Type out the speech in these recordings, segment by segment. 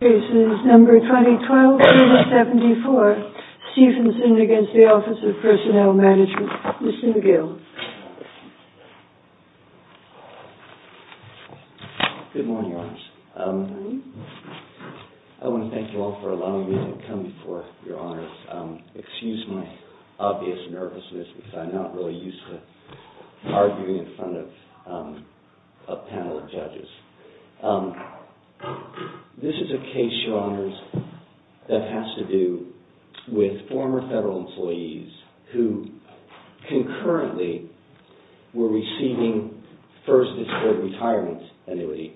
Cases No. 2012-74, Stephenson v. Office of Personnel Management, Mr. McGill. Good morning, Your Honors. I want to thank you all for allowing me to come before you, Your Honors. Excuse my obvious nervousness because I'm not really used to arguing in front of a panel of judges. This is a case, Your Honors, that has to do with former federal employees who concurrently were receiving first disability retirement annuity.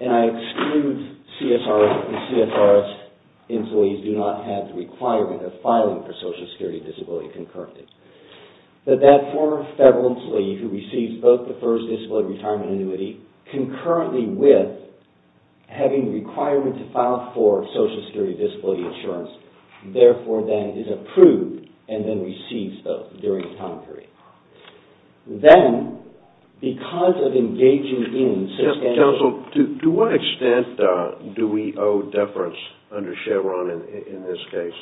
And I exclude CSRS because CSRS employees do not have the requirement of filing for social security disability concurrently. But that former federal employee who receives both the first disability retirement annuity concurrently with having the requirement to file for social security disability insurance, therefore then is approved and then receives both during the time period. Then, because of engaging in substantial... Counsel, to what extent do we owe deference under Chevron in this case?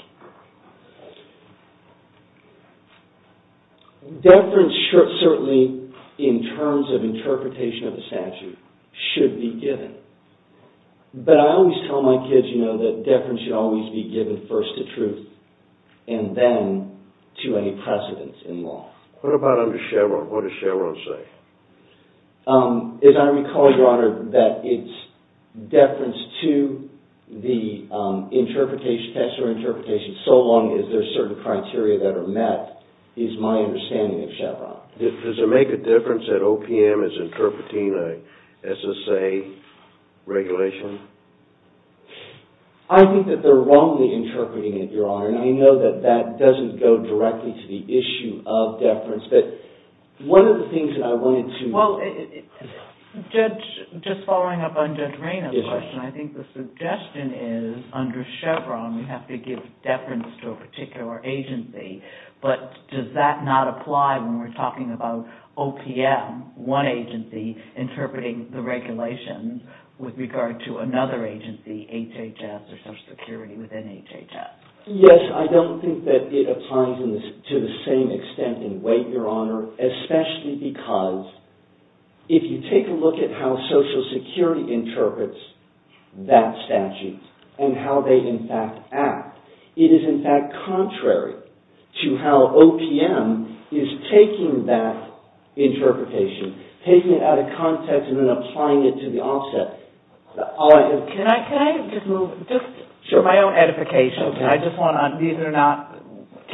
Deference certainly, in terms of interpretation of the statute, should be given. But I always tell my kids, you know, that deference should always be given first to truth and then to any precedence in law. What about under Chevron? What does Chevron say? As I recall, Your Honor, that it's deference to the interpretation, so long as there are certain criteria that are met, is my understanding of Chevron. Does it make a difference that OPM is interpreting an SSA regulation? I think that they're wrongly interpreting it, Your Honor, and I know that that doesn't go directly to the issue of deference. But one of the things that I wanted to... Well, Judge, just following up on Judge Rayna's question, I think the suggestion is under Chevron we have to give deference to a particular agency. But does that not apply when we're talking about OPM, one agency, interpreting the regulations with regard to another agency, HHS or social security within HHS? Yes, I don't think that it applies to the same extent in weight, Your Honor, especially because if you take a look at how social security interprets that statute and how they in fact act, it is in fact contrary to how OPM is taking that interpretation, taking it out of context and then applying it to the offset. Can I just move, just for my own edification, I just want to, these are not,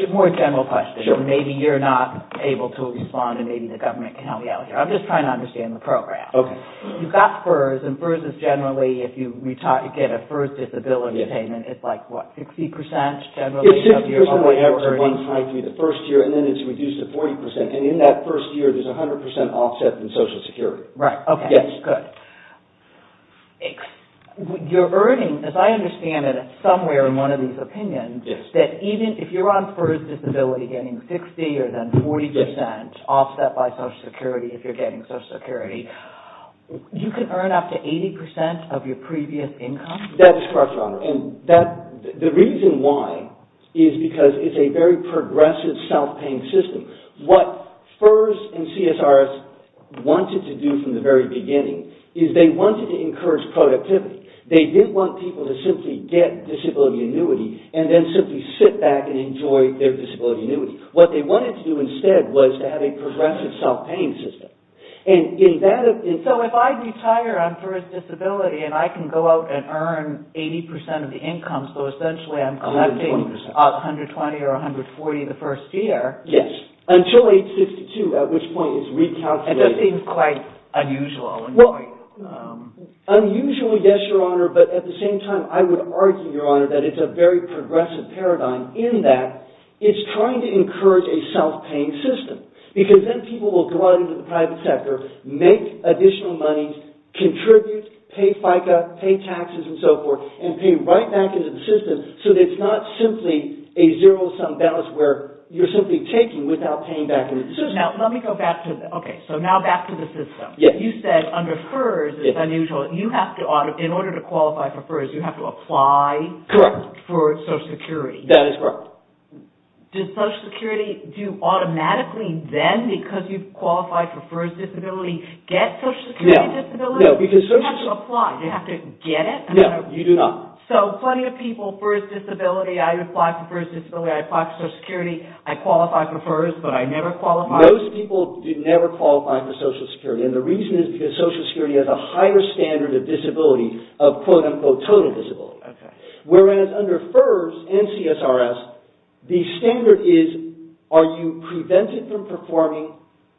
more general questions. Maybe you're not able to respond and maybe the government can help me out here. I'm just trying to understand the program. Okay. You've got FERS, and FERS is generally, if you get a FERS disability payment, it's like what, 60% generally of your earnings? It's 60% of my earnings one time through the first year, and then it's reduced to 40%, and in that first year there's 100% offset in social security. Right, okay. Yes. Good. You're earning, as I understand it, somewhere in one of these opinions, that even if you're on FERS disability getting 60 or then 40% offset by social security if you're getting social security, you can earn up to 80% of your previous income? That's correct, Your Honor, and that, the reason why is because it's a very progressive self-paying system. What FERS and CSRS wanted to do from the very beginning is they wanted to encourage productivity. They didn't want people to simply get disability annuity and then simply sit back and enjoy their disability annuity. What they wanted to do instead was to have a progressive self-paying system. So if I retire on FERS disability and I can go out and earn 80% of the income, so essentially I'm collecting 120 or 140 the first year. Yes. Until age 62, at which point it's recalculated. It just seems quite unusual. Unusual, yes, Your Honor, but at the same time I would argue, Your Honor, that it's a very progressive paradigm in that it's trying to encourage a self-paying system. Because then people will go out into the private sector, make additional money, contribute, pay FICA, pay taxes and so forth, and pay right back into the system so that it's not simply a zero-sum balance where you're simply taking without paying back into the system. Susan, now let me go back to, okay, so now back to the system. You said under FERS it's unusual. You have to, in order to qualify for FERS, you have to apply for social security. That is correct. Does social security do automatically then, because you've qualified for FERS disability, get social security disability? No. You have to apply. Do you have to get it? No, you do not. So plenty of people, FERS disability, I apply for FERS disability, I apply for social security, I qualify for FERS, but I never qualify. Most people do never qualify for social security, and the reason is because social security has a higher standard of disability, of quote-unquote total disability. Okay. Whereas under FERS and CSRS, the standard is are you prevented from performing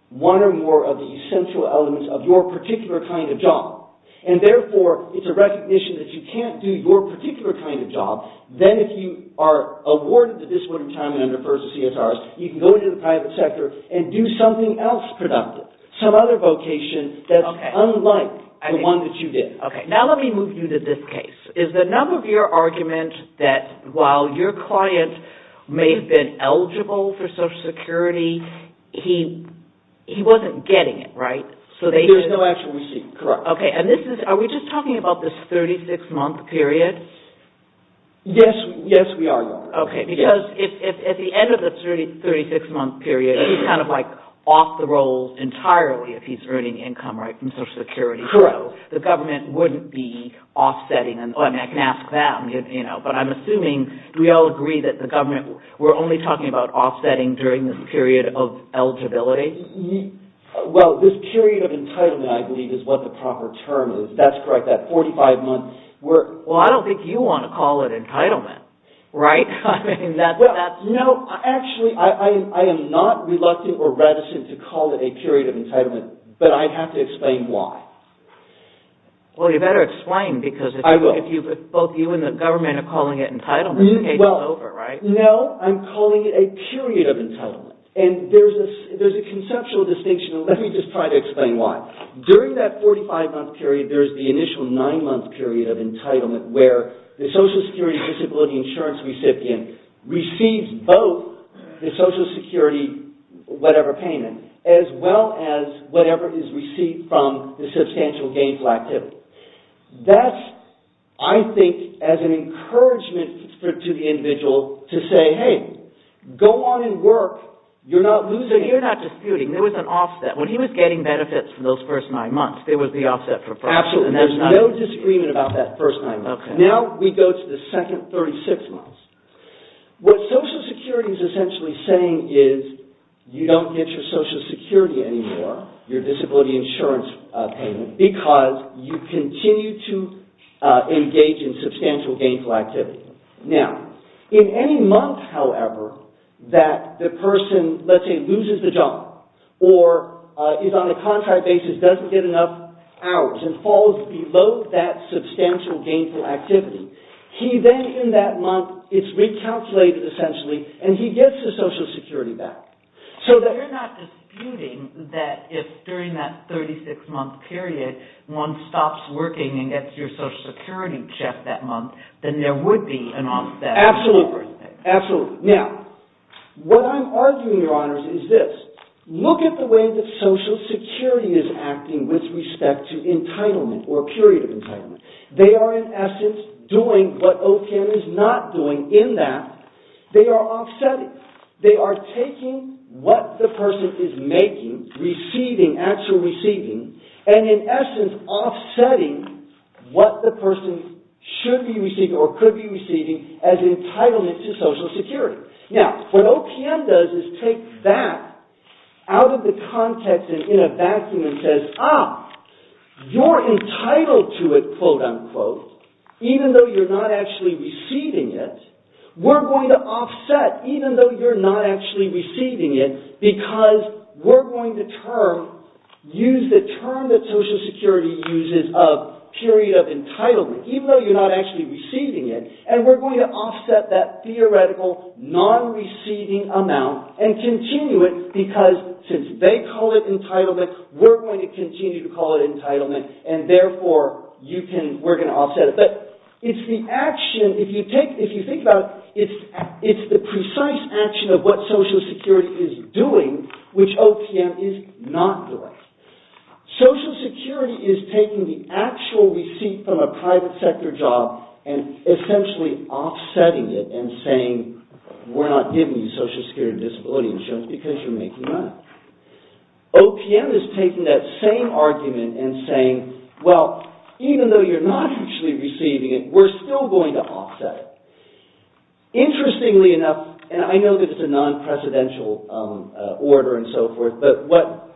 one or more of the essential elements of your particular kind of job, and therefore it's a recognition that you can't do your particular kind of job. Then if you are awarded the disability retirement under FERS and CSRS, you can go into the private sector and do something else productive, some other vocation that's unlike the one that you did. Okay. Now let me move you to this case. Is the number of your argument that while your client may have been eligible for social security, he wasn't getting it, right? There's no actual receipt, correct. Okay. Are we just talking about this 36-month period? Yes, we are. Okay. Because at the end of the 36-month period, he's kind of like off the rolls entirely if he's earning income from social security. Correct. So the government wouldn't be offsetting, and I can ask them, but I'm assuming, do we all agree that the government, we're only talking about offsetting during this period of eligibility? Well, this period of entitlement, I believe, is what the proper term is. That's correct. That 45-month... Well, I don't think you want to call it entitlement, right? No, actually, I am not reluctant or reticent to call it a period of entitlement, but I have to explain why. Well, you better explain because if both you and the government are calling it entitlement, the case is over, right? No, I'm calling it a period of entitlement, and there's a conceptual distinction. Let me just try to explain why. During that 45-month period, there's the initial nine-month period of entitlement where the social security disability insurance recipient receives both the social security, whatever payment, as well as whatever is received from the substantial gainful activity. That's, I think, as an encouragement to the individual to say, hey, go on and work. You're not losing... So you're not disputing. There was an offset. When he was getting benefits from those first nine months, there was the offset for... Absolutely. There's no disagreement about that first nine months. Now we go to the second 36 months. What social security is essentially saying is you don't get your social security anymore, your disability insurance payment, because you continue to engage in substantial gainful activity. Now, in any month, however, that the person, let's say, loses the job or is on a contract basis, doesn't get enough hours and falls below that substantial gainful activity, he then, in that month, is recalculated, essentially, and he gets his social security back. So you're not disputing that if, during that 36-month period, one stops working and gets your social security check that month, then there would be an offset. Absolutely. Absolutely. Now, what I'm arguing, Your Honors, is this. Look at the way that social security is acting with respect to entitlement or period of entitlement. They are, in essence, doing what OTAN is not doing in that they are offsetting. They are taking what the person is making, receiving, actual receiving, and, in essence, offsetting what the person should be receiving or could be receiving as entitlement to social security. Now, what OTAN does is take that out of the context and in a vacuum and says, ah, you're entitled to it, quote, unquote, even though you're not actually receiving it. We're going to offset, even though you're not actually receiving it, because we're going to use the term that social security uses of period of entitlement, even though you're not actually receiving it, and we're going to offset that theoretical non-receiving amount and continue it because, since they call it entitlement, we're going to continue to call it entitlement, and, therefore, we're going to offset it. But it's the action, if you think about it, it's the precise action of what social security is doing, which OTAN is not doing. Social security is taking the actual receipt from a private sector job and, essentially, offsetting it and saying, we're not giving you social security disability insurance because you're making money. OPM is taking that same argument and saying, well, even though you're not actually receiving it, we're still going to offset it. Interestingly enough, and I know that it's a non-presidential order and so forth, but what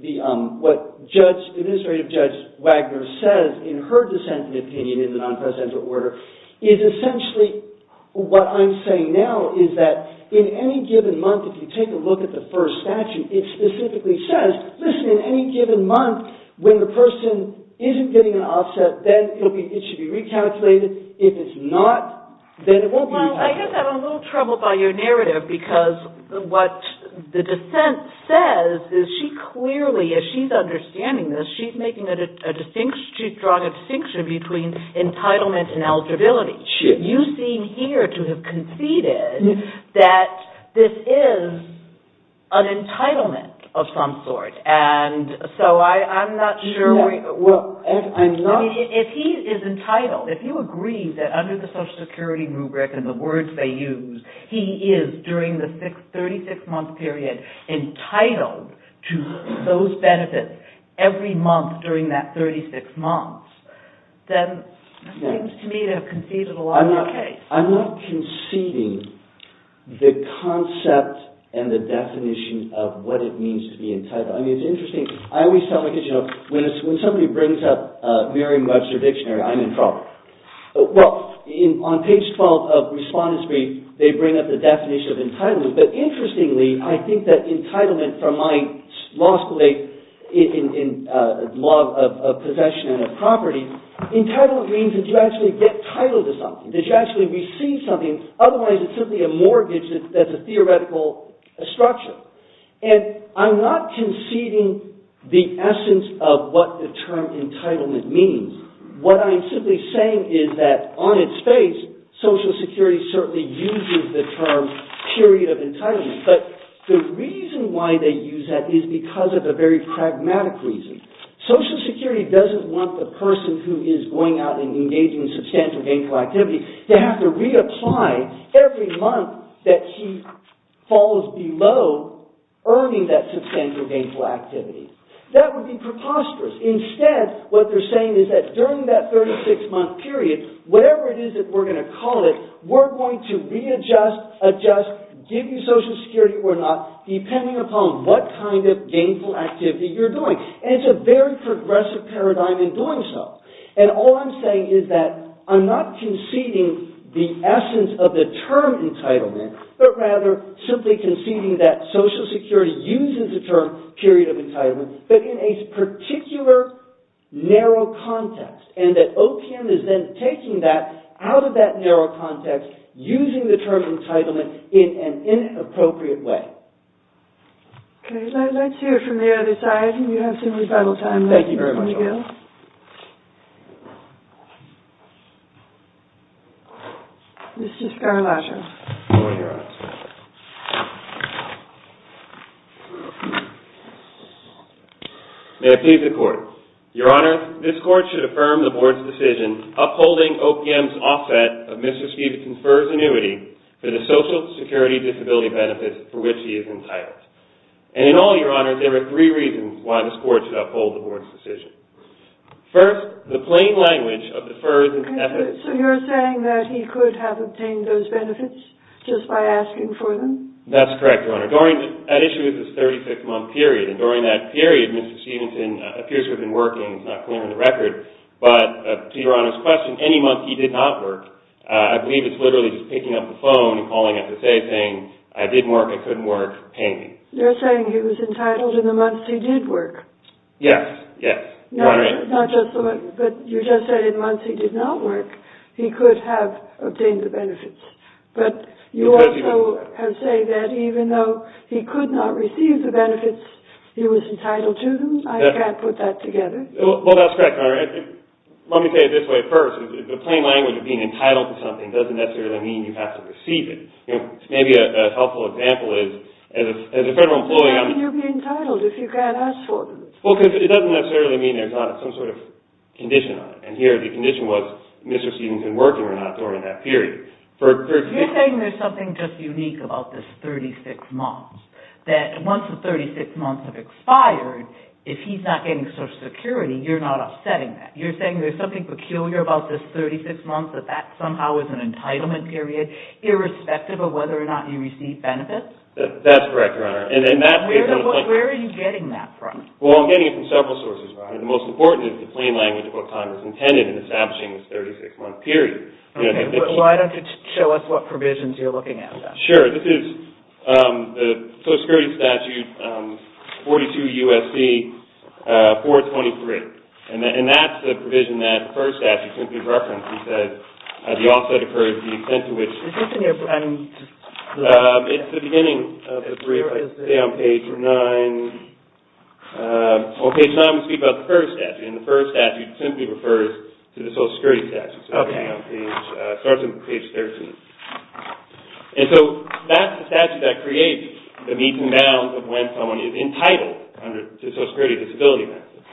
Administrative Judge Wagner says in her dissenting opinion in the non-presidential order is essentially what I'm saying now is that in any given month, if you take a look at the first statute, it specifically says, listen, in any given month, when the person isn't getting an offset, then it should be recalculated. If it's not, then it won't be recalculated. Well, I guess I'm a little troubled by your narrative because what the dissent says is she clearly, as she's understanding this, she's drawing a distinction between entitlement and eligibility. You seem here to have conceded that this is an entitlement of some sort, and so I'm not sure. If he is entitled, if you agree that under the social security rubric and the words they use, he is, during the 36-month period, entitled to those benefits every month during that 36 months, then it seems to me to have conceded along that case. I'm not conceding the concept and the definition of what it means to be entitled. I mean, it's interesting. I always tell my kids, you know, when somebody brings up Merriam-Webster Dictionary, I'm in trouble. Well, on page 12 of Respondents' Brief, they bring up the definition of entitlement, but interestingly, I think that entitlement from my law school days in law of possession and of property, entitlement means that you actually get titled to something, that you actually receive something, otherwise it's simply a mortgage that's a theoretical structure. And I'm not conceding the essence of what the term entitlement means. What I'm simply saying is that on its face, social security certainly uses the term period of entitlement, but the reason why they use that is because of a very pragmatic reason. Social security doesn't want the person who is going out and engaging in substantial gainful activity to have to reapply every month that he falls below earning that substantial gainful activity. That would be preposterous. Instead, what they're saying is that during that 36-month period, whatever it is that we're going to call it, we're going to readjust, adjust, give you social security or not, depending upon what kind of gainful activity you're doing. And it's a very progressive paradigm in doing so. And all I'm saying is that I'm not conceding the essence of the term entitlement, but rather simply conceding that social security uses the term period of entitlement, but in a particular narrow context, and that OPM is then taking that out of that narrow context, using the term entitlement in an inappropriate way. Okay. Let's hear from the other side. You have some rebuttal time left, Mr. McGill. Thank you very much, Your Honor. Mr. Scarlatoiu. Go ahead, Your Honor. May it please the Court. Your Honor, this Court should affirm the Board's decision upholding OPM's offset of Mr. Stevenson's FERS annuity for the social security disability benefits for which he is entitled. And in all, Your Honor, there are three reasons why this Court should uphold the Board's decision. First, the plain language of the FERS... So you're saying that he could have obtained those benefits just by asking for them? That's correct, Your Honor. During that issue of the 36-month period, and during that period Mr. Stevenson appears to have been working, it's not clear on the record, but to Your Honor's question, any month he did not work, I believe it's literally just picking up the phone and calling him to say, saying, I didn't work, I couldn't work, pay me. You're saying he was entitled in the months he did work? Yes, yes. Not just the month, but you just said in months he did not work, he could have obtained the benefits. But you also have said that even though he could not receive the benefits he was entitled to them? I can't put that together. Well, that's correct, Your Honor. Let me say it this way first. The plain language of being entitled to something doesn't necessarily mean you have to receive it. Maybe a helpful example is, as a federal employee... How can you be entitled if you can't ask for them? Well, because it doesn't necessarily mean there's not some sort of condition on it. And here the condition was Mr. Stevenson working or not during that period. You're saying there's something just unique about this 36 months, that once the 36 months have expired, if he's not getting Social Security, you're not upsetting that. You're saying there's something peculiar about this 36 months, that that somehow is an entitlement period, irrespective of whether or not you receive benefits? That's correct, Your Honor. Where are you getting that from? Well, I'm getting it from several sources, Your Honor. The most important is the plain language of what Congress intended in establishing this 36-month period. Why don't you show us what provisions you're looking at? Sure. This is the Social Security Statute 42 U.S.C. 423. And that's the provision that the first statute simply references, that the offset occurs to the extent to which... Is this in your... It's the beginning of the brief. It's on page 9. On page 9 we speak about the first statute, and the first statute simply refers to the Social Security statute. It starts on page 13. And so that's the statute that creates the meets and bounds of when someone is entitled to Social Security disability benefits.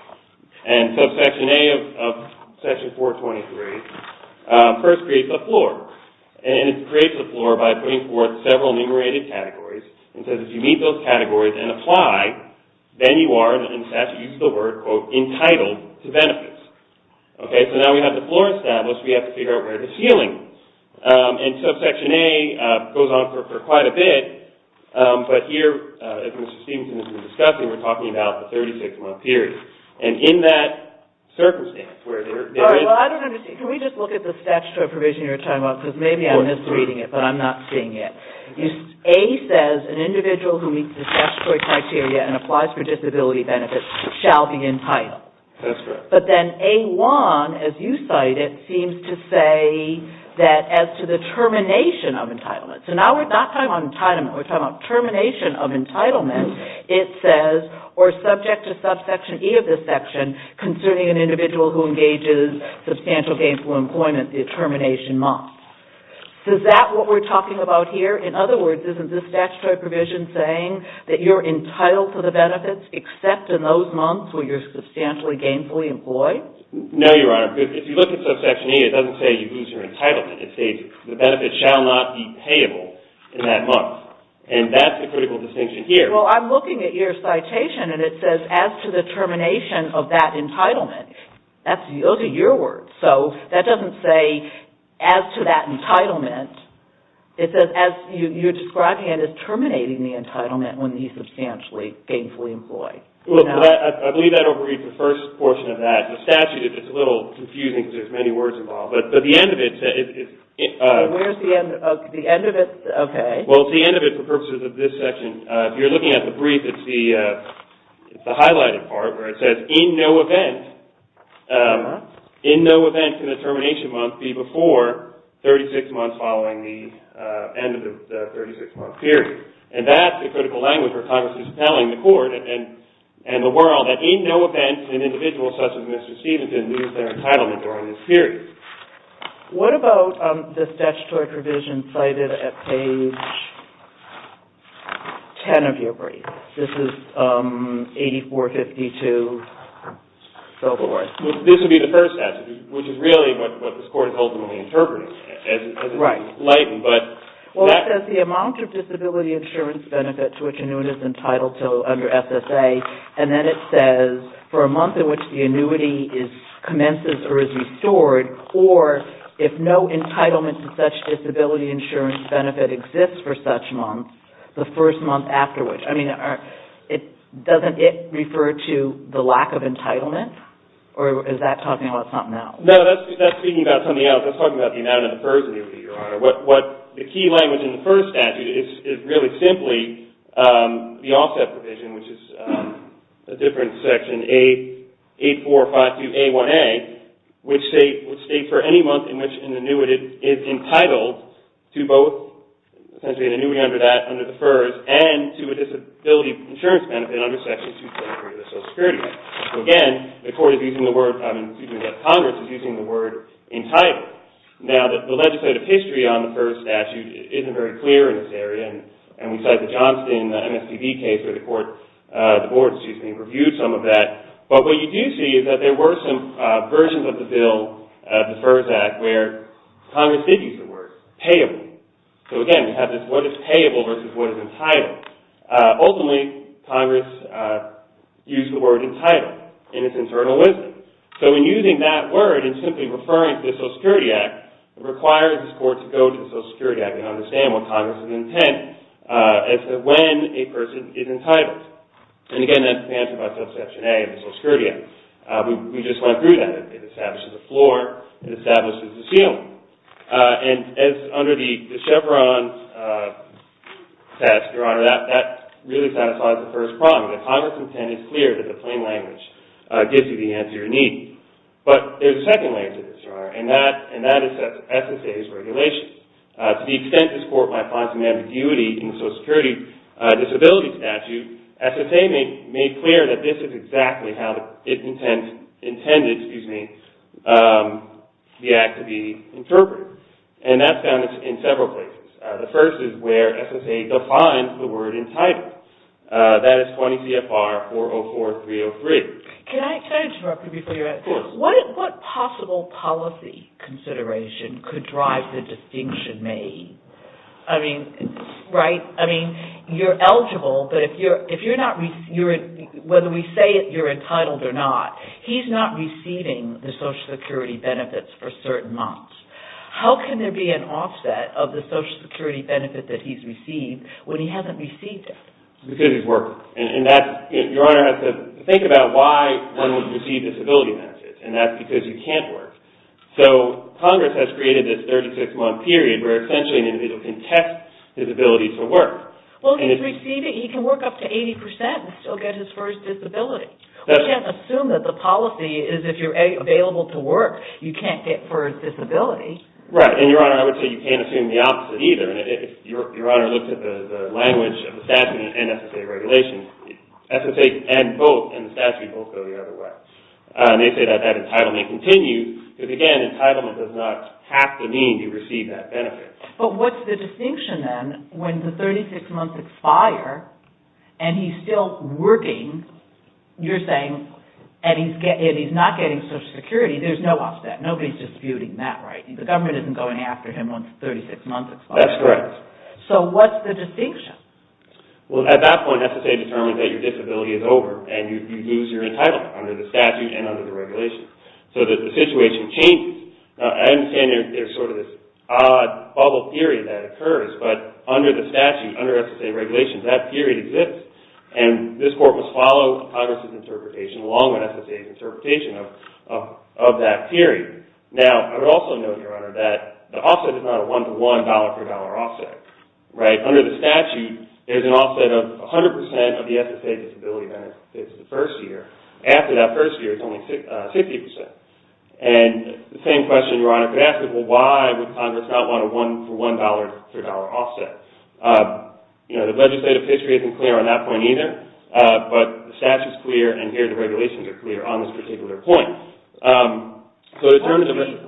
And so Section A of Section 423 first creates the floor. And it creates the floor by putting forth several enumerated categories, and says if you meet those categories and apply, then you are, in statute use of the word, quote, entitled to benefits. Okay, so now we have the floor established, we have to figure out where the ceiling is. And so Section A goes on for quite a bit. But here, as Mr. Stevenson has been discussing, we're talking about the 36-month period. And in that circumstance, where there is... All right, well, I don't understand. Can we just look at the statutory provision you were talking about? Because maybe I missed reading it, but I'm not seeing it. A says an individual who meets the statutory criteria and applies for disability benefits shall be entitled. That's correct. But then A1, as you cite it, seems to say that as to the termination of entitlement. So now we're not talking about entitlement, we're talking about termination of entitlement. It says, or subject to subsection E of this section, concerning an individual who engages in substantial gainful employment the termination month. Is that what we're talking about here? In other words, isn't the statutory provision saying that you're entitled to the benefits except in those months where you're substantially gainfully employed? No, Your Honor. If you look at subsection E, it doesn't say you lose your entitlement. It says the benefits shall not be payable in that month. And that's a critical distinction here. Well, I'm looking at your citation, and it says as to the termination of that entitlement. Those are your words. So that doesn't say as to that entitlement. It says as you're describing it as terminating the entitlement when he's substantially gainfully employed. I believe I overread the first portion of that. In the statute, it's a little confusing because there's many words involved. But the end of it says it's... Where's the end of it? The end of it? Okay. Well, it's the end of it for purposes of this section. If you're looking at the brief, it's the highlighted part where it says, in no event can the termination month be before 36 months following the end of the 36-month period. And that's the critical language where Congress is telling the Court and the world that in no event can individuals such as Mr. Stevenson lose their entitlement during this period. What about the statutory provision cited at page 10 of your brief? This is 8452, so forth. This would be the first statute, which is really what this Court is ultimately interpreting. Right. It's enlightened, but... Well, it says the amount of disability insurance benefit to which a new one is entitled to under SSA, and then it says, for a month in which the annuity commences or is restored, or if no entitlement to such disability insurance benefit exists for such months, the first month after which. I mean, doesn't it refer to the lack of entitlement, or is that talking about something else? No, that's speaking about something else. That's talking about the amount of the first annuity, Your Honor. What the key language in the first statute is really simply the offset provision, which is a different section, 8452A1A, which states for any month in which an annuity is entitled to both essentially an annuity under that, under the FERS, and to a disability insurance benefit under Section 223 of the Social Security Act. So again, the Court is using the word, excuse me, the Congress is using the word entitled. Now, the legislative history on the FERS statute isn't very clear in this area, and we cite the Johnston MSPB case where the board, excuse me, reviewed some of that. But what you do see is that there were some versions of the bill, the FERS Act, where Congress did use the word payable. So again, we have this what is payable versus what is entitled. Ultimately, Congress used the word entitled in its internal wisdom. So in using that word and simply referring to the Social Security Act, it requires this Court to go to the Social Security Act and understand what Congress's intent is for when a person is entitled. And again, that's the answer by Subsection A of the Social Security Act. We just went through that. It establishes a floor. It establishes a ceiling. And as under the Chevron test, Your Honor, that really satisfies the first problem. The Congress's intent is clear, that the plain language gives you the answer you need. But there's a second layer to this, Your Honor, and that is SSA's regulations. To the extent this Court might find some ambiguity in the Social Security Disability Statute, SSA made clear that this is exactly how it intended the Act to be interpreted. And that's found in several places. The first is where SSA defines the word entitled. That is 20 CFR 404303. Can I interrupt you before you answer? Of course. What possible policy consideration could drive the distinction made? I mean, right? I mean, you're eligible, but if you're not, whether we say you're entitled or not, he's not receiving the Social Security benefits for certain months. How can there be an offset of the Social Security benefit that he's received when he hasn't received it? Because he's working. And that's, Your Honor, I have to think about why one would receive disability benefits, and that's because you can't work. So Congress has created this 36-month period where essentially an individual can test his ability to work. Well, he's receiving, he can work up to 80% and still get his first disability. We can't assume that the policy is if you're available to work, you can't get first disability. Right, and Your Honor, I would say you can't assume the opposite either. And if Your Honor looks at the language of the statute and SSA regulations, SSA and both and the statute both go the other way. They say that that entitlement continues, because again, entitlement does not have to mean you receive that benefit. But what's the distinction then when the 36 months expire and he's still working, you're saying, and he's not getting Social Security, there's no offset. Nobody's disputing that, right? The government isn't going after him once 36 months expire. That's correct. So what's the distinction? Well, at that point, SSA determines that your disability is over and you lose your entitlement under the statute and under the regulations. So the situation changes. I understand there's sort of this odd bubble period that occurs, but under the statute, under SSA regulations, that period exists and this court must follow Congress' interpretation along with SSA's interpretation of that period. Now, I would also note, Your Honor, that the offset is not a one-to-one dollar-per-dollar offset, right? Under the statute, there's an offset of 100% of the SSA disability benefits the first year. After that first year, it's only 50%. And the same question, Your Honor, could ask is, well, why would Congress not want a one-to-one dollar-per-dollar offset? The legislative history isn't clear on that point either, but the statute's clear and here the regulations are clear on this particular point.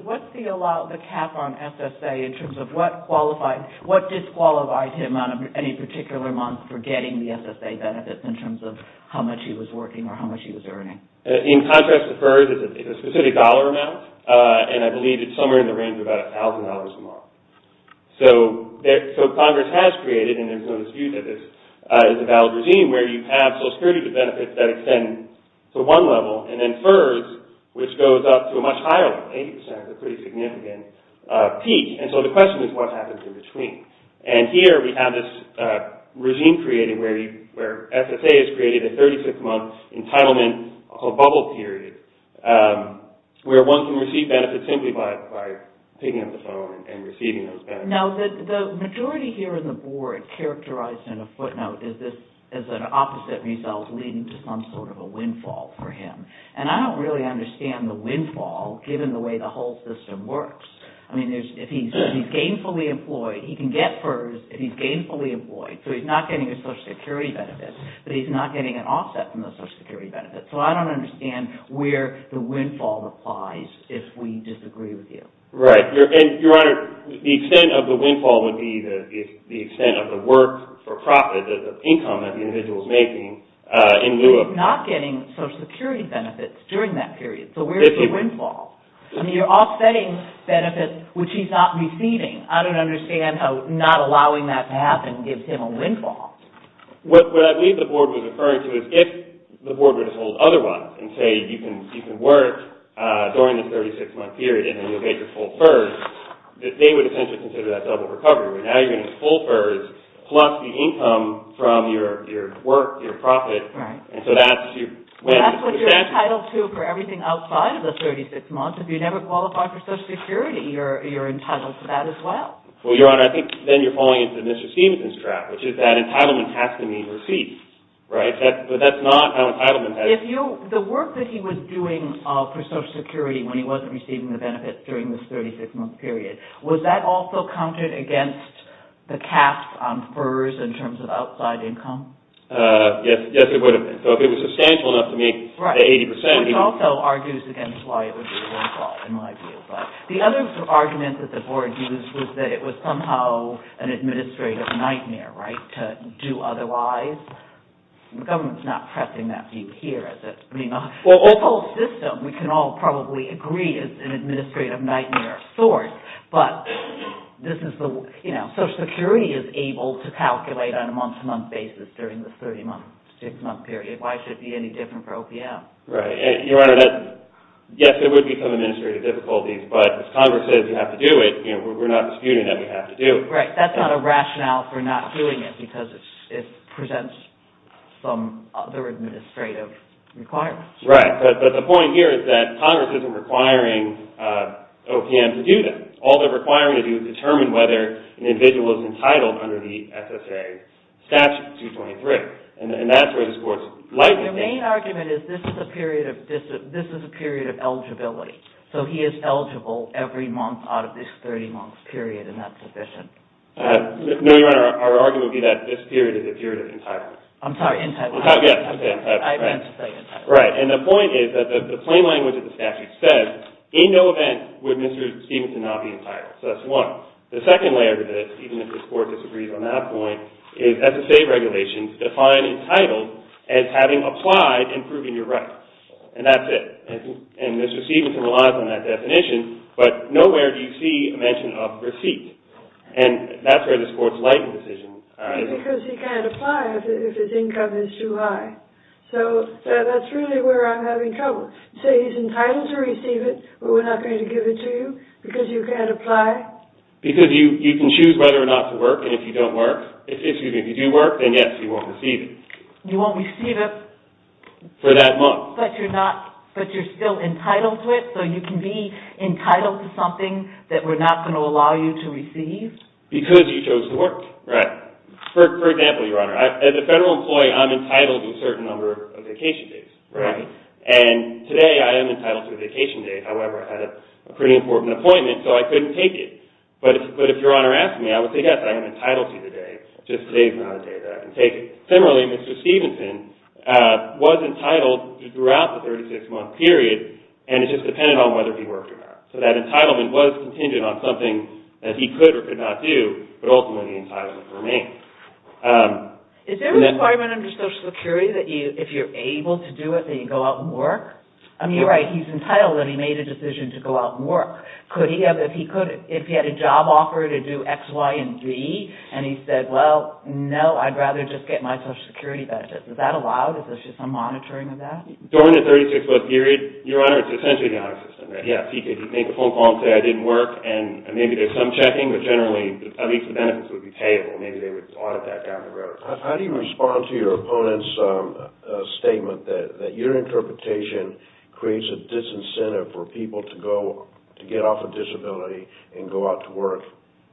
What's the cap on SSA in terms of what disqualified him on any particular month for getting the SSA benefits in terms of how much he was working or how much he was earning? In contrast to FERS, it's a specific dollar amount, and I believe it's somewhere in the range of about $1,000 a month. So Congress has created, and there's no dispute that this is a valid regime, where you have Social Security benefits that extend to one level and then FERS, which goes up to a much higher level, 80% is a pretty significant peak. And so the question is, what happens in between? And here we have this regime created where SSA has created a 36-month entitlement bubble period where one can receive benefits simply by picking up the phone and receiving those benefits. Now, the majority here in the board characterized in a footnote as an opposite result leading to some sort of a windfall for him. And I don't really understand the windfall, given the way the whole system works. I mean, if he's gainfully employed, he can get FERS if he's gainfully employed, so he's not getting a Social Security benefit, but he's not getting an offset from the Social Security benefit. So I don't understand where the windfall applies if we disagree with you. Right. Your Honor, the extent of the windfall would be the extent of the work for profit, the income that the individual is making in lieu of... He's not getting Social Security benefits during that period, so where's the windfall? You're offsetting benefits which he's not receiving. I don't understand how not allowing that to happen gives him a windfall. What I believe the board was referring to is if the board were to hold otherwise and say you can work during the 36-month period and then you'll get your full FERS, that they would essentially consider that double recovery. Now you're going to get full FERS plus the income from your work, your profit. Right. And so that's your win. And that's what you're entitled to for everything outside of the 36 months. If you never qualify for Social Security, you're entitled to that as well. Well, Your Honor, I think then you're falling into Mr. Stevenson's trap, which is that entitlement has to mean receipts, right? But that's not how entitlement has... The work that he was doing for Social Security when he wasn't receiving the benefits during this 36-month period, would that also count it against the caps on FERS in terms of outside income? Yes, it would have been. So if it was substantial enough to make the 80 percent... Right, which also argues against why it would be the wrong call in my view. But the other argument that the board used was that it was somehow an administrative nightmare, right, to do otherwise. The government's not pressing that view here, is it? I mean, the whole system, we can all probably agree, is an administrative nightmare of sorts, but this is the, you know, Social Security is able to calculate on a month-to-month basis during the 36-month period. Why should it be any different for OPM? Right, Your Honor, yes, there would be some administrative difficulties, but if Congress says you have to do it, you know, we're not disputing that we have to do it. Right, that's not a rationale for not doing it, because it presents some other administrative requirements. Right, but the point here is that Congress isn't requiring OPM to do this. All they're requiring to do is determine whether an individual is entitled under the SSA Statute 223, and that's where this Court's likely... The main argument is this is a period of eligibility, so he is eligible every month out of this 30-month period, and that's sufficient. No, Your Honor, our argument would be that this period is a period of entitlement. I'm sorry, entitlement. Yes, entitlement. I meant to say entitlement. Right, and the point is that the plain language of the statute says, in no event would Mr. Stephenson not be entitled, so that's one. The second layer to this, even if this Court disagrees on that point, is SSA regulations define entitled as having applied and proving you're right, and that's it. And Mr. Stephenson relies on that definition, but nowhere do you see a mention of receipt, and that's where this Court's likely decision... Because he can't apply if his income is too high, so that's really where I'm having trouble. So he's entitled to receive it, but we're not going to give it to you because you can't apply? Because you can choose whether or not to work, and if you do work, then yes, you won't receive it. You won't receive it? For that month. But you're still entitled to it, so you can be entitled to something that we're not going to allow you to receive? Because you chose to work. Right. For example, Your Honor, as a federal employee, I'm entitled to a certain number of vacation days, and today I am entitled to a vacation day. However, I had a pretty important appointment, so I couldn't take it. But if Your Honor asked me, I would say yes, I am entitled to the day, just today's not a day that I can take it. Similarly, Mr. Stephenson was entitled throughout the 36-month period, and it just depended on whether he worked or not. So that entitlement was contingent on something that he could or could not do, but ultimately the entitlement remained. Is there a requirement under Social Security that if you're able to do it, that you go out and work? I mean, you're right, he's entitled, and he made a decision to go out and work. If he had a job offer to do X, Y, and Z, and he said, well, no, I'd rather just get my Social Security benefits, is that allowed? Is there some monitoring of that? During the 36-month period, Your Honor, it's essentially the honor system. Yes, he could make a phone call and say I didn't work, and maybe there's some checking, but generally, at least the benefits would be paid, or maybe they would audit that down the road. How do you respond to your opponent's statement that your interpretation creates a disincentive for people to get off a disability and go out to work,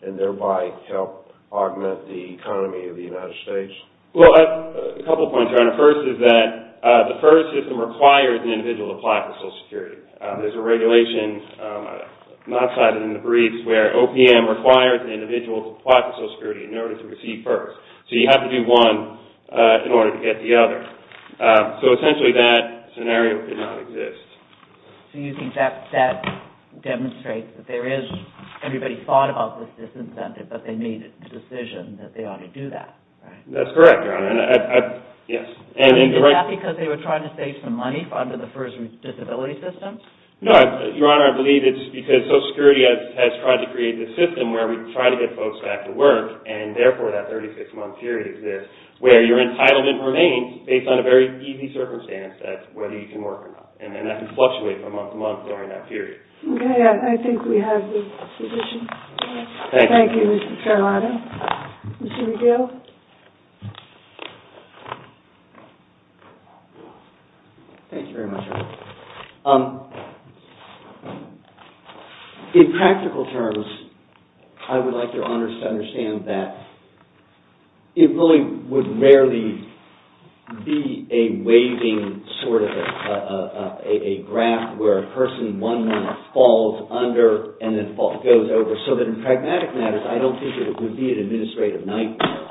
and thereby help augment the economy of the United States? Well, a couple points, Your Honor. First is that the FERS system requires an individual to apply for Social Security. There's a regulation not cited in the briefs where OPM requires an individual to apply for Social Security in order to receive FERS. So you have to do one in order to get the other. So essentially, that scenario did not exist. So you think that demonstrates that everybody thought about this disincentive, but they made a decision that they ought to do that, right? That's correct, Your Honor. Is that because they were trying to save some money under the FERS disability system? No, Your Honor. I believe it's because Social Security has tried to create this system where we try to get folks back to work, and therefore that 36-month period exists where your entitlement remains based on a very easy circumstance, that's whether you can work or not, and that can fluctuate from month to month during that period. Okay, I think we have the position. Thank you, Mr. Carolina. Mr. Regal? Thank you very much, Your Honor. In practical terms, I would like Your Honors to understand that it really would rarely be a waving sort of a graph where a person one month falls under and then goes over, so that in pragmatic matters, I don't think it would be an administrative nightmare,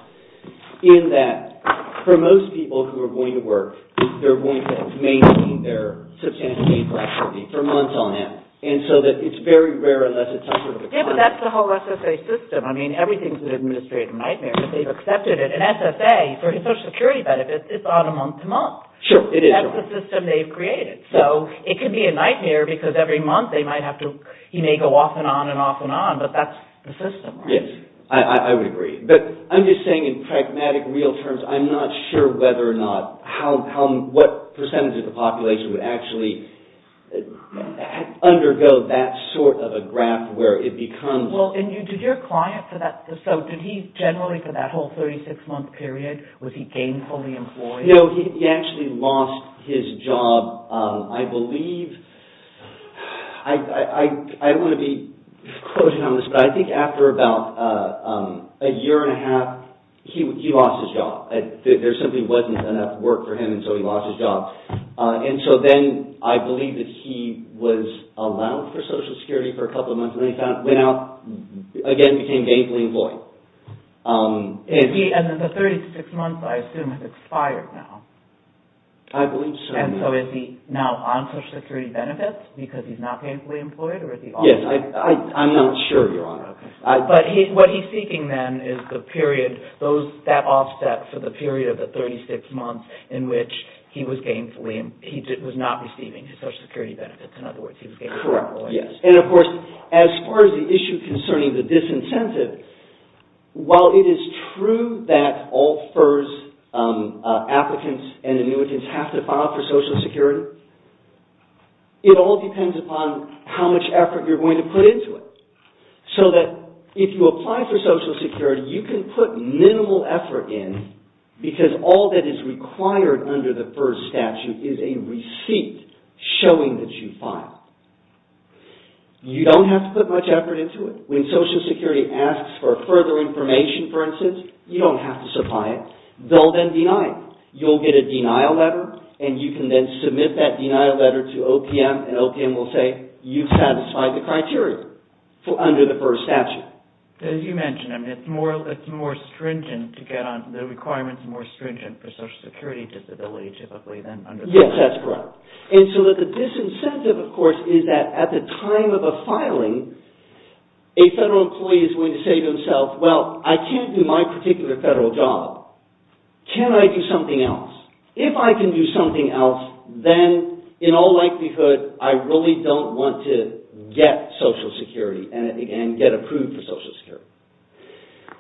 in that for most people who are going to work, they're going to maintain their substantial income for months on end, and so that it's very rare unless it's some sort of a contract. Yeah, but that's the whole SSA system. I mean, everything's an administrative nightmare, but they've accepted it. An SSA, for Social Security benefits, it's on a month to month. Sure, it is, Your Honor. That's the system they've created. So, it could be a nightmare because every month they might have to, he may go off and on and off and on, but that's the system, right? Yes, I would agree. But I'm just saying in pragmatic, real terms, I'm not sure whether or not, what percentage of the population would actually undergo that sort of a graph where it becomes... Well, and did your client for that, so did he generally for that whole 36-month period, was he gainfully employed? No, he actually lost his job. I believe, I don't want to be closing on this, but I think after about a year and a half, he lost his job. There simply wasn't enough work for him, and so he lost his job. And so then, I believe that he was allowed for Social Security for a couple of months, and then he went out, again, became gainfully employed. And the 36 months, I assume, have expired now. I believe so. And so, is he now on Social Security benefits because he's not gainfully employed? Yes, I'm not sure, Your Honor. But what he's seeking then is the period, that offset for the period of the 36 months in which he was gainfully, he was not receiving his Social Security benefits. In other words, he was gainfully employed. And of course, as far as the issue concerning the disincentive, while it is true that all FERS applicants and annuitants have to file for Social Security, it all depends upon how much effort you're going to put into it. So that if you apply for Social Security, you can put minimal effort in because all that is required under the FERS statute is a receipt showing that you filed. You don't have to put much effort into it. When Social Security asks for further information, for instance, you don't have to supply it. They'll then deny it. You'll get a denial letter, and you can then submit that denial letter to OPM, and OPM will say, you've satisfied the criteria under the FERS statute. As you mentioned, it's more stringent to get on, the requirements are more stringent for Social Security disability, typically, than under the FERS statute. Yes, that's correct. And so the disincentive, of course, is that at the time of a filing, a federal employee is going to say to himself, well, I can't do my particular federal job. Can I do something else? If I can do something else, then in all likelihood, I really don't want to get Social Security and get approved for Social Security.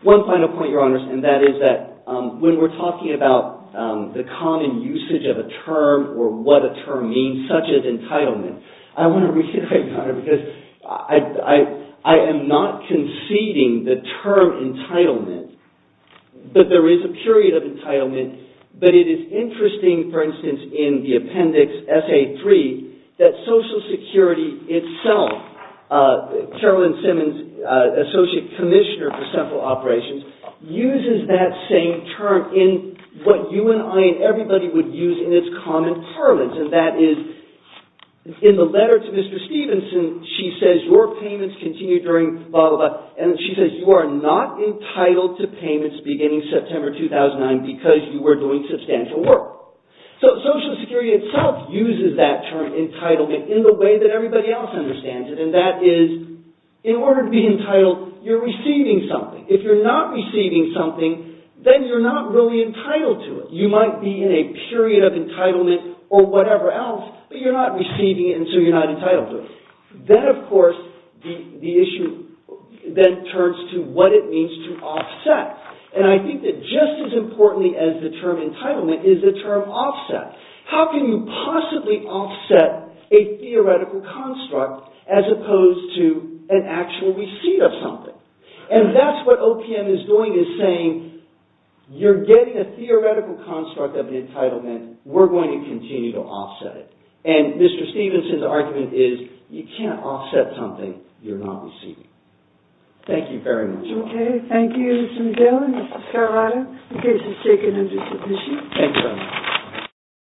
One final point, Your Honors, and that is that when we're talking about the common usage of a term or what a term means, such as entitlement, I want to reiterate, Your Honor, because I am not conceding the term entitlement, that there is a period of entitlement, but it is interesting, for instance, in the appendix SA-3, that Social Security itself, Carolyn Simmons, Associate Commissioner for Central Operations, uses that same term in what you and I and everybody would use in its common parlance, and that is, in the letter to Mr. Stevenson, she says, your payments continue during blah, blah, blah, and she says, you are not entitled to payments beginning September 2009 because you were doing substantial work. So Social Security itself uses that term entitlement in the way that everybody else understands it, and that is, in order to be entitled, you're receiving something. If you're not receiving something, then you're not really entitled to it. You might be in a period of entitlement or whatever else, but you're not receiving it, and so you're not entitled to it. Then, of course, the issue then turns to what it means to offset, and I think that just as importantly as the term entitlement is the term offset. How can you possibly offset a theoretical construct as opposed to an actual receipt of something? And that's what OPM is doing, is saying, you're getting a theoretical construct of an entitlement. We're going to continue to offset it, and Mr. Stevenson's argument is you can't offset something you're not receiving. Thank you very much. Okay, thank you, Mr. McGill and Mr. Scarlato. The case is taken under submission. Thank you.